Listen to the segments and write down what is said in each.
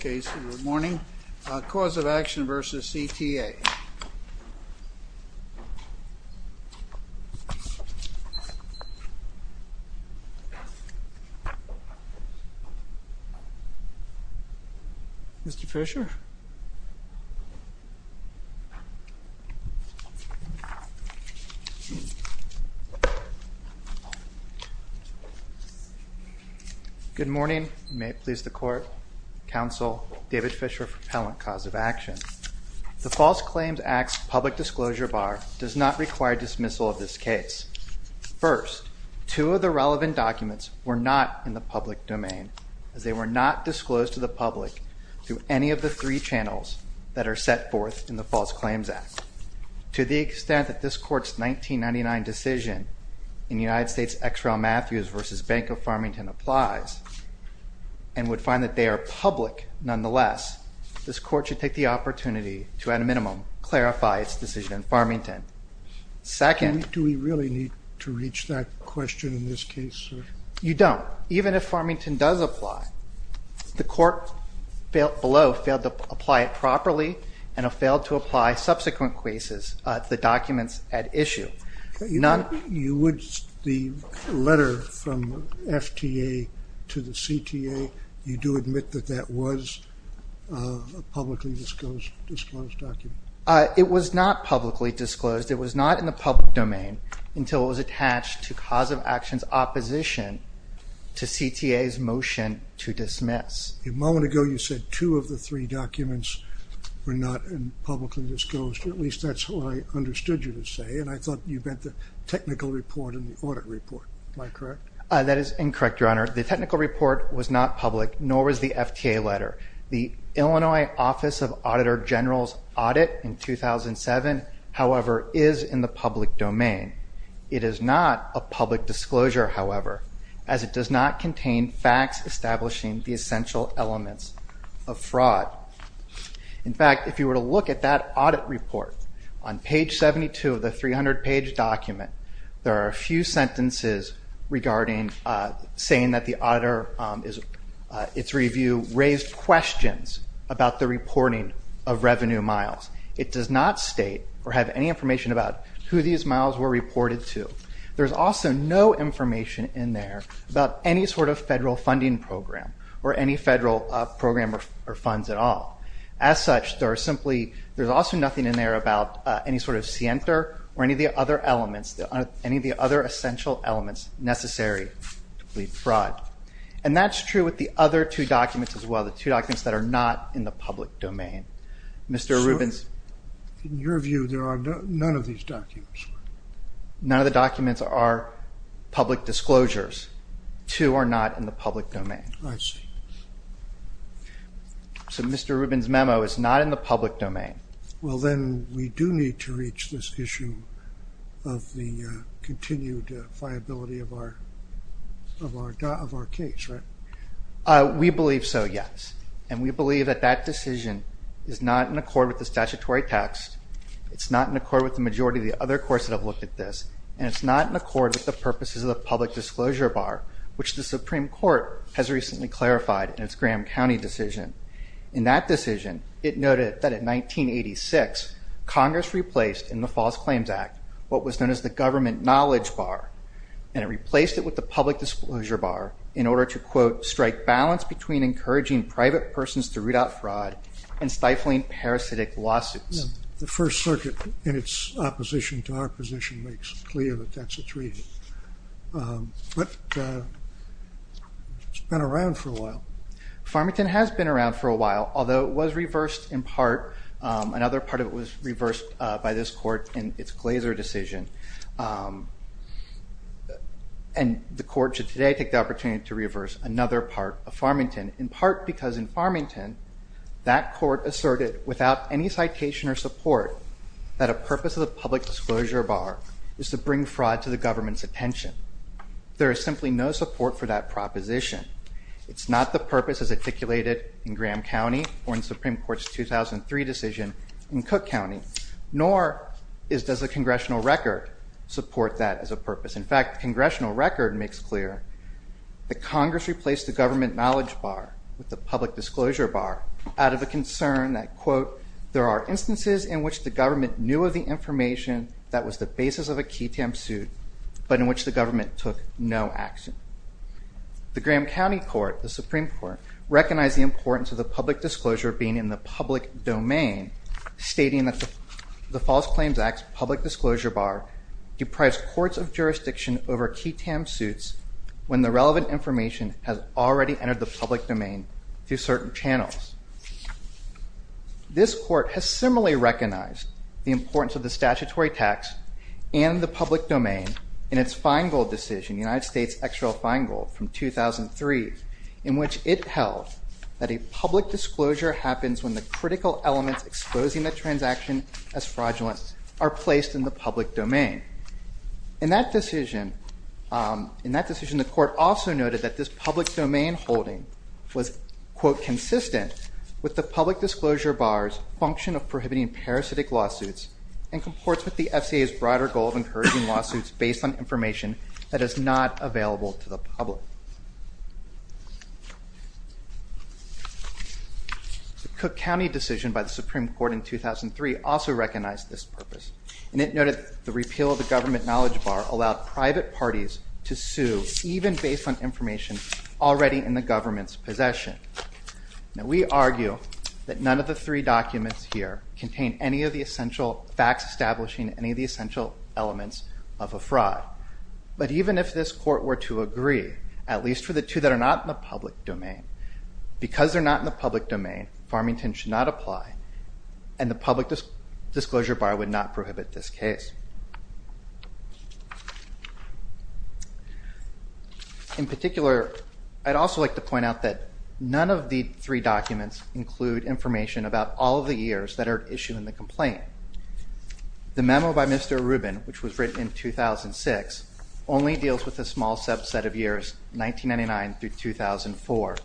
Good morning. Cause of Action v. CTA. Mr. Fisher? Good morning. May it please the Court. Counsel, David Fisher for Appellant Cause of Action. The False Claims Act's public disclosure bar does not require dismissal of this case. First, two of the relevant documents were not in the public domain as they were not three channels that are set forth in the False Claims Act. To the extent that this Court's 1999 decision in United States' X. R. L. Matthews v. Bank of Farmington applies and would find that they are public nonetheless, this Court should take the opportunity to at a minimum clarify its decision in Farmington. Second- Do we really need to reach that question in this case, sir? You don't. Even if Farmington does apply, the Court below failed to apply it properly and have failed to apply subsequent cases, the documents at issue. You would, the letter from FTA to the CTA, you do admit that that was a publicly disclosed document? It was not publicly disclosed. It was not in the public domain until it was attached to cause of action's opposition to CTA's motion to dismiss. A moment ago you said two of the three documents were not publicly disclosed. At least that's what I understood you to say, and I thought you meant the technical report and the audit report. Am I correct? That is incorrect, Your Honor. The technical report was not public, nor was the FTA letter. The Illinois Office of Auditor General's audit in 2007, however, is in the public domain. It is not a public disclosure, however, as it does not contain facts establishing the essential elements of fraud. In fact, if you were to look at that audit report, on page 72 of the 300-page document, there are a few sentences regarding, saying that the auditor, its review raised questions about the reporting of revenue miles. It does not state or have any information about who these miles were reported to. There is also no information in there about any sort of federal funding program or any federal program or funds at all. As such, there is simply, there is also nothing in there about any sort of scienter or any of the other elements, any of the other essential elements necessary to plead fraud. And that's true with the other two documents as well, the two documents that are not in the public domain. So, in your view, there are none of these documents? None of the documents are public disclosures. Two are not in the public domain. I see. So Mr. Rubin's memo is not in the public domain. Well then, we do need to reach this issue of the continued viability of our case, right? We believe so, yes. And we believe that that decision is not in accord with the statutory text. It's not in accord with the majority of the other courts that have looked at this. And it's not in accord with the purposes of the public disclosure bar, which the Supreme Court has recently clarified in its Graham County decision. In that decision, it noted that in 1986, Congress replaced in the False Claims Act what was known as the government knowledge bar, and it replaced it with the public disclosure bar in order to, quote, strike balance between encouraging private persons to root out fraud and stifling parasitic lawsuits. The First Circuit, in its opposition to our position, makes it clear that that's a three. But it's been around for a while. Farmington has been around for a while, although it was reversed in part. Another part of it was reversed by this court in its Glazer decision. And the court should today take the opportunity to reverse another part of Farmington, in part because in Farmington, that court asserted without any citation or support that a purpose of the public disclosure bar is to bring fraud to the government's attention. There is simply no support for that proposition. It's not the purpose as articulated in Graham County or in the Supreme Court's 2003 decision in Cook County, nor does the congressional record support that as a purpose. In fact, the congressional record makes clear that Congress replaced the government knowledge bar with the public disclosure bar out of a concern that, quote, there are instances in which the government knew of the information that was the basis of a key tam suit, but in which the government took no action. The Graham County Court, the Supreme Court, recognized the importance of the public disclosure being in the public domain, stating that the False Claims Act's public disclosure bar deprives courts of jurisdiction over key tam suits when the relevant information has already entered the public domain through certain channels. This court has similarly recognized the importance of the statutory tax and the public domain in its Feingold decision, the United States XREL Feingold from 2003, in which it held that a public disclosure happens when the critical elements exposing the transaction as fraudulent are placed in the public domain. In that decision, the court also noted that this public domain holding was, quote, consistent with the public disclosure bar's function of prohibiting parasitic lawsuits and comports with the FCA's broader goal of encouraging lawsuits based on information that is not available to the public. The Cook County decision by the Supreme Court in 2003 also recognized this purpose, and it noted the repeal of the government knowledge bar allowed private parties to sue even based on information already in the government's possession. Now we argue that none of the three documents here contain any of the essential facts establishing any of the essential elements of a fraud, but even if this court were to agree, at least for the two that are not in the public domain, because they're not in the public domain, Farmington should not apply and the public disclosure bar would not prohibit this case. In particular, I'd also like to point out that none of the three documents include information about all of the years that are issued in the complaint. The memo by Mr. Rubin, which was written in 2006, only deals with a small subset of years 1999 through 2004.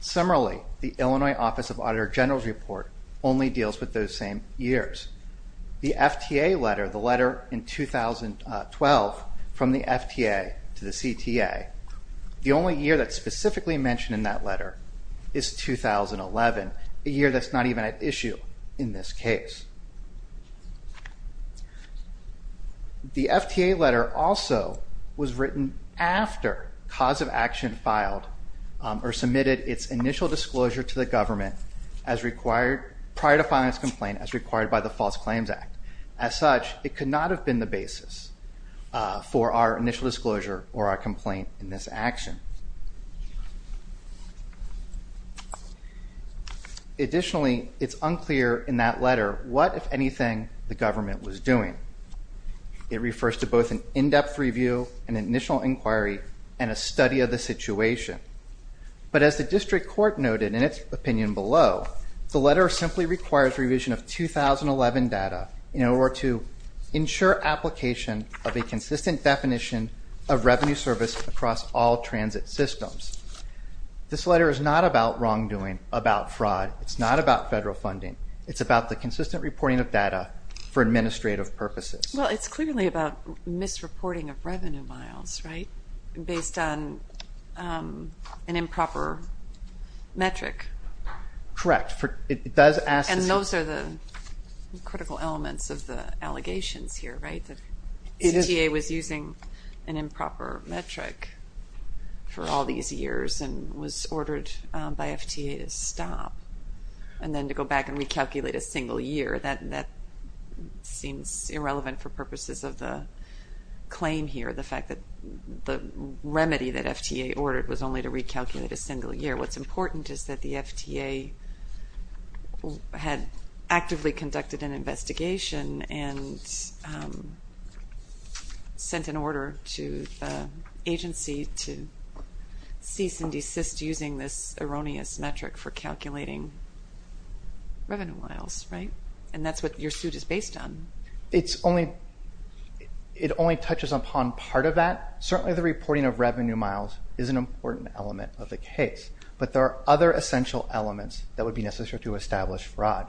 Similarly, the Illinois Office of Auditor General's report only deals with those same years. The FTA letter, the letter in 2012 from the FTA to the CTA, the only year that's specifically mentioned in that letter is 2011, a year that's not even at issue in this case. The FTA letter also was written after Cause of Action filed or submitted its initial disclosure to the government prior to filing its complaint as required by the False Claims Act. As such, it could not have been the basis for our initial disclosure or our complaint in this action. Additionally, it's unclear in that letter what, if anything, the government was doing. It refers to both an in-depth review, an initial inquiry, and a study of the situation. But as the District Court noted in its opinion below, the letter simply requires revision of 2011 data in order to ensure application of a consistent definition of revenue service across all transit systems. This letter is not about wrongdoing, about fraud. It's not about federal funding. It's about the consistent reporting of data for administrative purposes. Well, it's clearly about misreporting of revenue miles, right? Based on an improper metric. Correct. It does ask us to... And those are the critical elements of the allegations here, right? The CTA was using an improper metric for all these years and was ordered by FTA to stop, and then to go back and recalculate a single year. That seems irrelevant for purposes of the claim here. The fact that the remedy that FTA ordered was only to recalculate a single year. What's important is that the FTA had actively conducted an investigation and sent an order to the agency to cease and desist the application based using this erroneous metric for calculating revenue miles, right? And that's what your suit is based on. It only touches upon part of that. Certainly the reporting of revenue miles is an important element of the case, but there are other essential elements that would be necessary to establish fraud.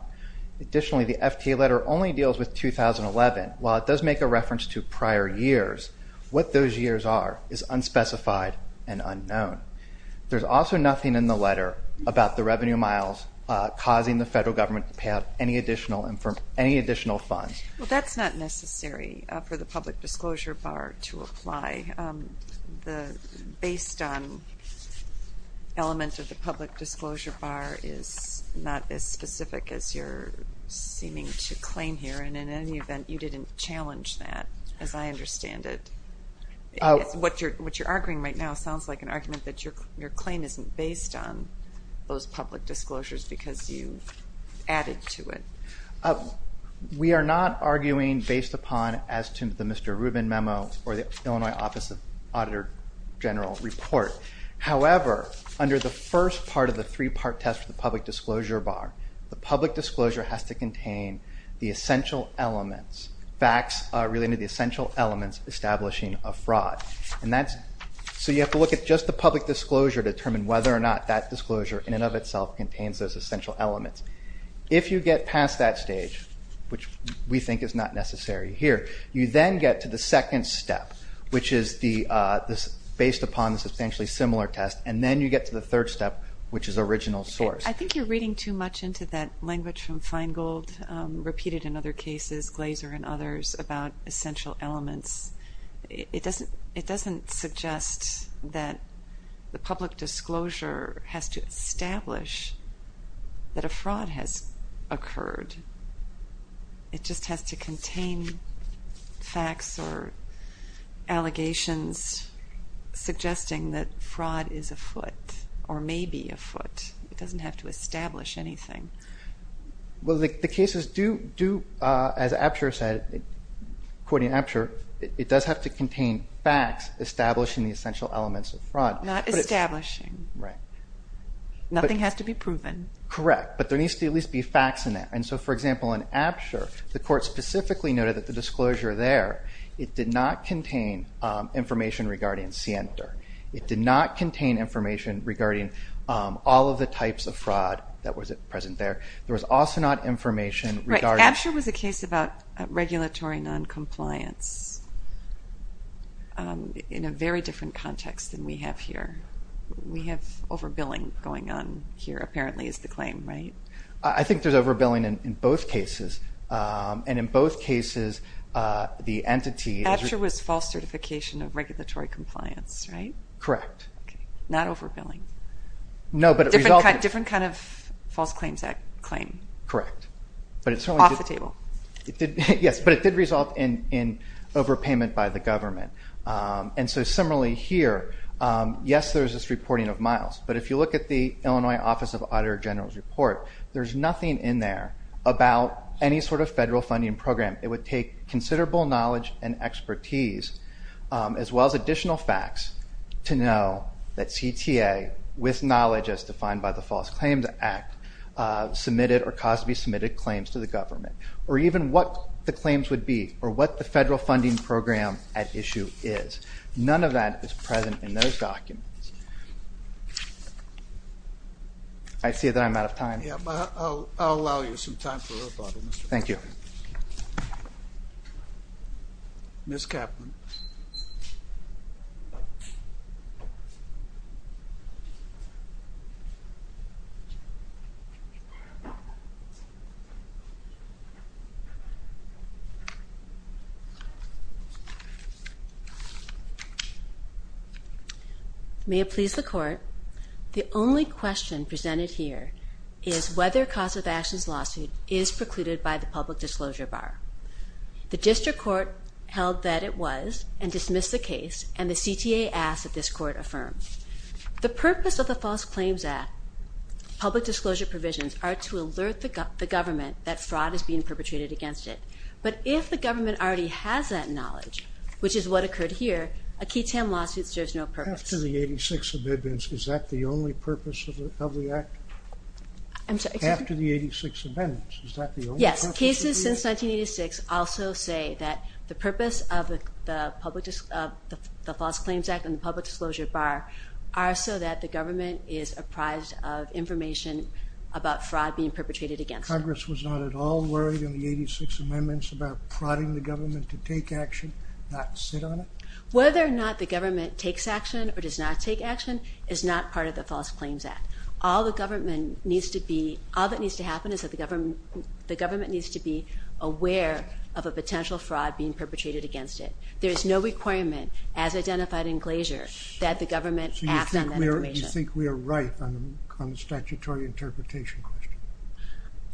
Additionally, the FTA letter only deals with 2011. While it does make a reference to prior years, what those years are is unspecified and unknown. There's also nothing in the letter about the revenue miles causing the federal government to pay out any additional funds. Well, that's not necessary for the public disclosure bar to apply. The based on element of the public disclosure bar is not as specific as you're seeming to claim here, and in any event, you didn't challenge that as I understand it. What you're arguing right now sounds like an argument that your claim isn't based on those public disclosures because you added to it. We are not arguing based upon as to the Mr. Rubin memo or the Illinois Office of Auditor General report. However, under the first part of the three-part test of the public disclosure bar, the public disclosure has to contain the essential elements, facts related to the establishing of fraud. So you have to look at just the public disclosure to determine whether or not that disclosure in and of itself contains those essential elements. If you get past that stage, which we think is not necessary here, you then get to the second step, which is based upon the substantially similar test, and then you get to the third step, which is original source. I think you're reading too much into that language from Feingold, repeated in other cases, Glazer and others, about essential elements. It doesn't suggest that the public disclosure has to establish that a fraud has occurred. It just has to contain facts or allegations suggesting that fraud is afoot or may be afoot. It doesn't have to establish anything. Well, the cases do, as Apsher said, quoting Apsher, it does have to contain facts establishing the essential elements of fraud. Not establishing. Right. Nothing has to be proven. Correct. But there needs to at least be facts in there. And so, for example, in Apsher, the court specifically noted that the disclosure there, it did not contain information regarding It did not contain information regarding all of the types of fraud that was present there. There was also not information regarding Right. Apsher was a case about regulatory noncompliance in a very different context than we have here. We have overbilling going on here, apparently, is the claim, right? I think there's overbilling in both cases. And in both cases, the entity Apsher was false certification of regulatory compliance, right? Correct. Not overbilling. No, but it resulted Different kind of false claims that claim. Correct. Off the table. Yes, but it did result in overpayment by the government. And so similarly here, yes, there's this reporting of miles. But if you look at the Illinois Office of Auditor General's report, there's nothing in there about any sort of federal funding program. It would take considerable knowledge and expertise, as well as additional facts, to know that CTA, with knowledge as defined by the False Claims Act, submitted or caused to be submitted claims to the government. Or even what the claims would be, or what the federal funding program at issue is. None of that is present in those documents. I see that I'm out of time. Yeah, but I'll allow you some time for a little thought on this. Thank you. Ms. Kaplan. May it please the Court, the only question presented here is whether Kasovash's lawsuit is precluded by the Public Disclosure Bar. The District Court held that it was, and dismissed the case, and the CTA asks that this Court affirm. The purpose of the False Claims Act public disclosure provisions are to alert the government that fraud is being perpetrated against it. But if the government already has that knowledge, which is what occurred here, a Keaton lawsuit serves no purpose. After the 86th Amendment, is that the only purpose of the Act? I'm sorry. After the 86th Amendment, is that the only purpose of the Act? Yes. Cases since 1986 also say that the purpose of the False Claims Act and the Public Disclosure Bar are so that the government is apprised of information about fraud being perpetrated against it. Congress was not at all worried in the 86th Amendment about prodding the government to take action, not sit on it? Whether or not the government takes action or does not take action is not part of the All that needs to happen is that the government needs to be aware of a potential fraud being perpetrated against it. There is no requirement, as identified in Glacier, that the government act on that information. So you think we are right on the statutory interpretation question?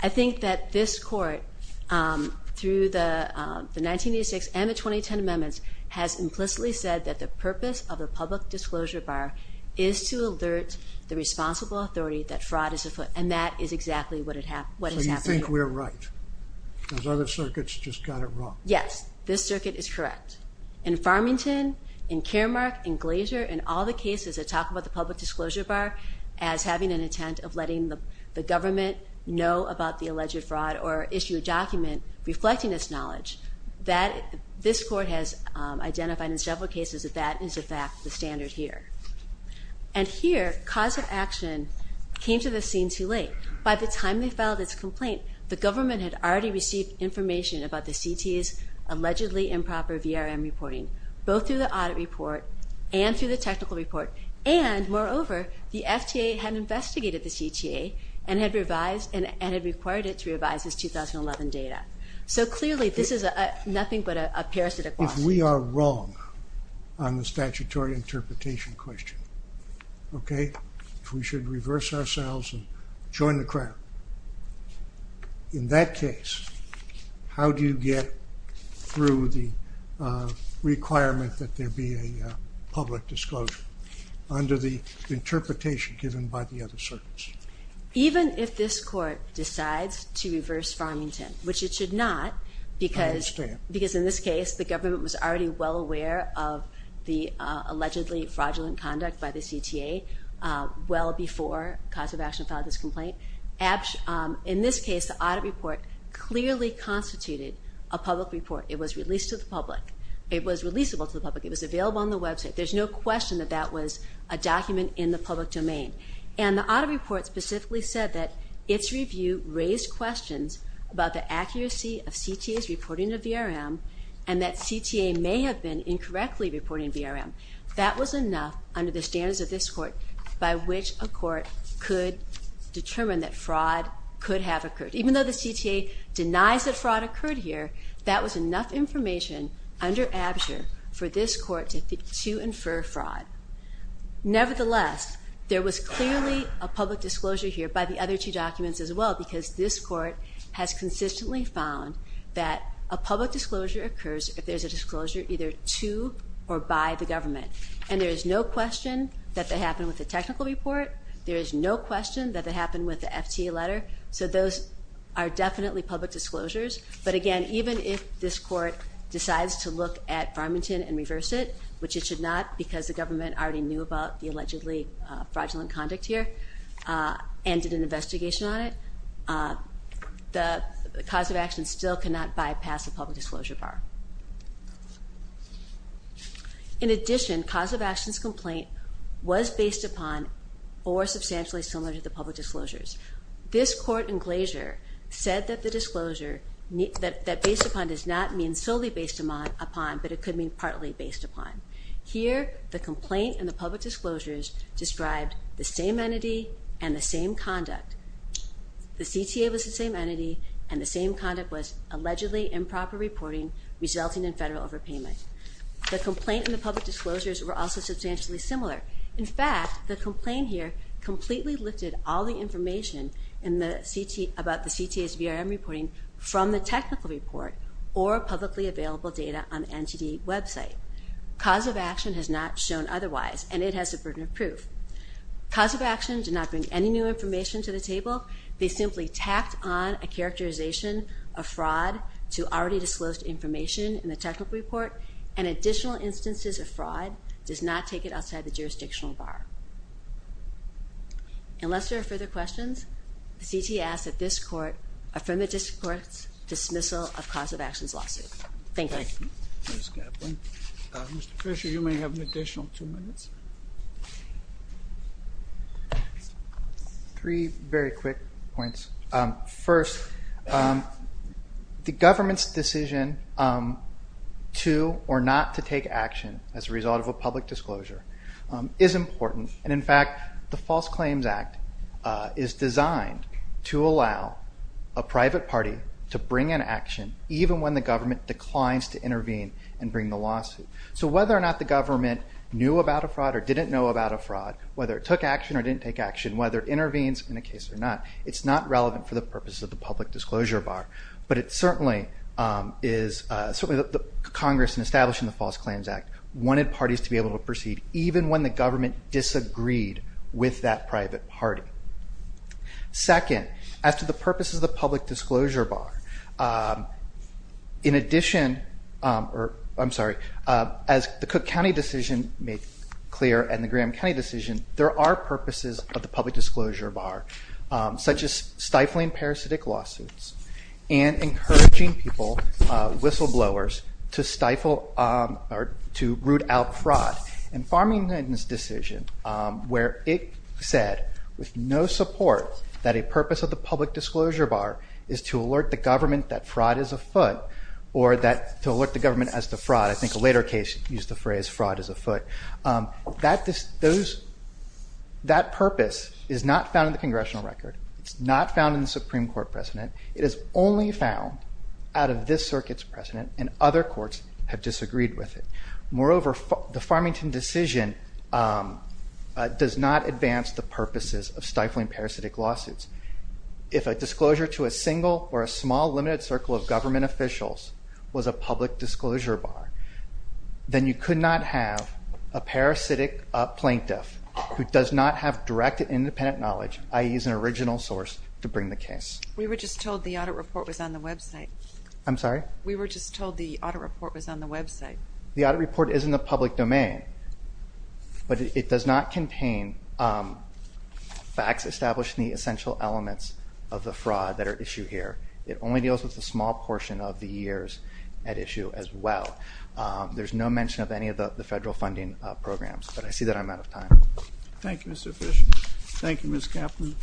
I think that this Court, through the 1986 and the 2010 Amendments, has implicitly said that the purpose of the Public Disclosure Bar is to alert the responsible authority that fraud is afoot, and that is exactly what is happening. So you think we are right? Those other circuits just got it wrong? Yes. This circuit is correct. In Farmington, in Caremark, in Glacier, in all the cases that talk about the Public Disclosure Bar as having an intent of letting the government know about the alleged fraud or issue a document reflecting this knowledge, this Court has identified in several cases that that is, in fact, the standard here. And here, cause of action came to the scene too late. By the time they filed its complaint, the government had already received information about the CTA's allegedly improper VRM reporting, both through the audit report and through the technical report, and moreover, the FTA had investigated the CTA and had required it to revise its 2011 data. So clearly, this is nothing but a parasitic question. If we are wrong on the statutory interpretation question, okay, if we should reverse ourselves and join the crowd, in that case, how do you get through the requirement that there be a public disclosure under the interpretation given by the other circuits? Even if this Court decides to reverse Farmington, which it should not, because in this case the government was already well aware of the allegedly fraudulent conduct by the CTA well before cause of action filed this complaint. In this case, the audit report clearly constituted a public report. It was released to the public. It was releasable to the public. It was available on the website. There's no question that that was a document in the public domain. And the audit report specifically said that its review raised questions about the accuracy of CTA's reporting to VRM and that CTA may have been incorrectly reporting to VRM. That was enough under the standards of this Court by which a Court could determine that fraud could have occurred. Even though the CTA denies that fraud occurred here, that was enough information under absurd for this Court to infer fraud. Nevertheless, there was clearly a public disclosure here by the other two documents as well because this Court has consistently found that a public disclosure occurs if there's a disclosure either to or by the government. And there is no question that that happened with the technical report. There is no question that that happened with the FTA letter. So those are definitely public disclosures. But again, even if this Court decides to look at Farmington and reverse it, which it should not because the government already knew about the allegedly fraudulent conduct here and did an investigation on it, the cause of action still cannot bypass a public disclosure bar. In addition, cause of action's complaint was based upon or substantially similar to the public disclosures. This Court in Glacier said that the disclosure, that based upon does not mean solely based upon, but it could mean partly based upon. Here, the complaint and the public disclosures described the same entity and the same conduct. The CTA was the same entity and the same conduct was allegedly improper reporting resulting in federal overpayment. The complaint and the public disclosures were also substantially similar. In fact, the complaint here completely lifted all the information about the CTA's VRM reporting from the technical report or publicly available data on the NTD website. Cause of action has not shown otherwise and it has the burden of proof. Cause of action did not bring any new information to the table. They simply tacked on a characterization of fraud to already disclosed information in the technical report and additional instances of fraud does not take it outside the jurisdictional bar. Unless there are further questions, the CTA asks that this Court affirm the District Court's dismissal of cause of action's lawsuit. Thank you. Ms. Kaplan. Mr. Fisher, you may have an additional two minutes. Three very quick points. First, the government's decision to or not to take action as a result of a public disclosure is important. And in fact, the False Claims Act is designed to allow a private party to bring an action even when the government declines to intervene and bring the lawsuit. So whether or not the government knew about a fraud or didn't know about a fraud, whether it took action or didn't take action, whether it intervenes in a case or not, it's not relevant for the purpose of the public disclosure bar. But it certainly is, certainly the Congress in establishing the False Claims Act wanted parties to be able to proceed even when the government disagreed with that private party. Second, as to the purpose of the public disclosure bar, in addition, or I'm sorry, as the Cook County decision made clear and the Graham County decision, there are purposes of the public disclosure bar, such as stifling parasitic lawsuits and encouraging people, whistleblowers, to stifle or to root out fraud. And Farmington's decision where it said with no support that a purpose of the public disclosure bar is to alert the government that fraud is afoot or that to alert the government as to fraud. I think a later case used the phrase fraud is afoot. That purpose is not found in the congressional record. It's not found in the Supreme Court precedent. It is only found out of this circuit's precedent and other courts have disagreed with it. Moreover, the Farmington decision does not advance the purposes of stifling parasitic lawsuits. If a disclosure to a single or a small limited circle of government officials was a public disclosure bar, then you could not have a parasitic plaintiff who does not have direct independent knowledge, i.e. an original source to bring the case. We were just told the audit report was on the website. I'm sorry? We were just told the audit report was on the website. The audit report is in the public domain, but it does not contain facts established in the essential elements of the fraud that are issued here. It only deals with a small portion of the years at issue as well. There's no mention of any of the federal funding programs, but I see that I'm out of time. Thank you, Mr. Fishman. Thank you, Ms. Kaplan.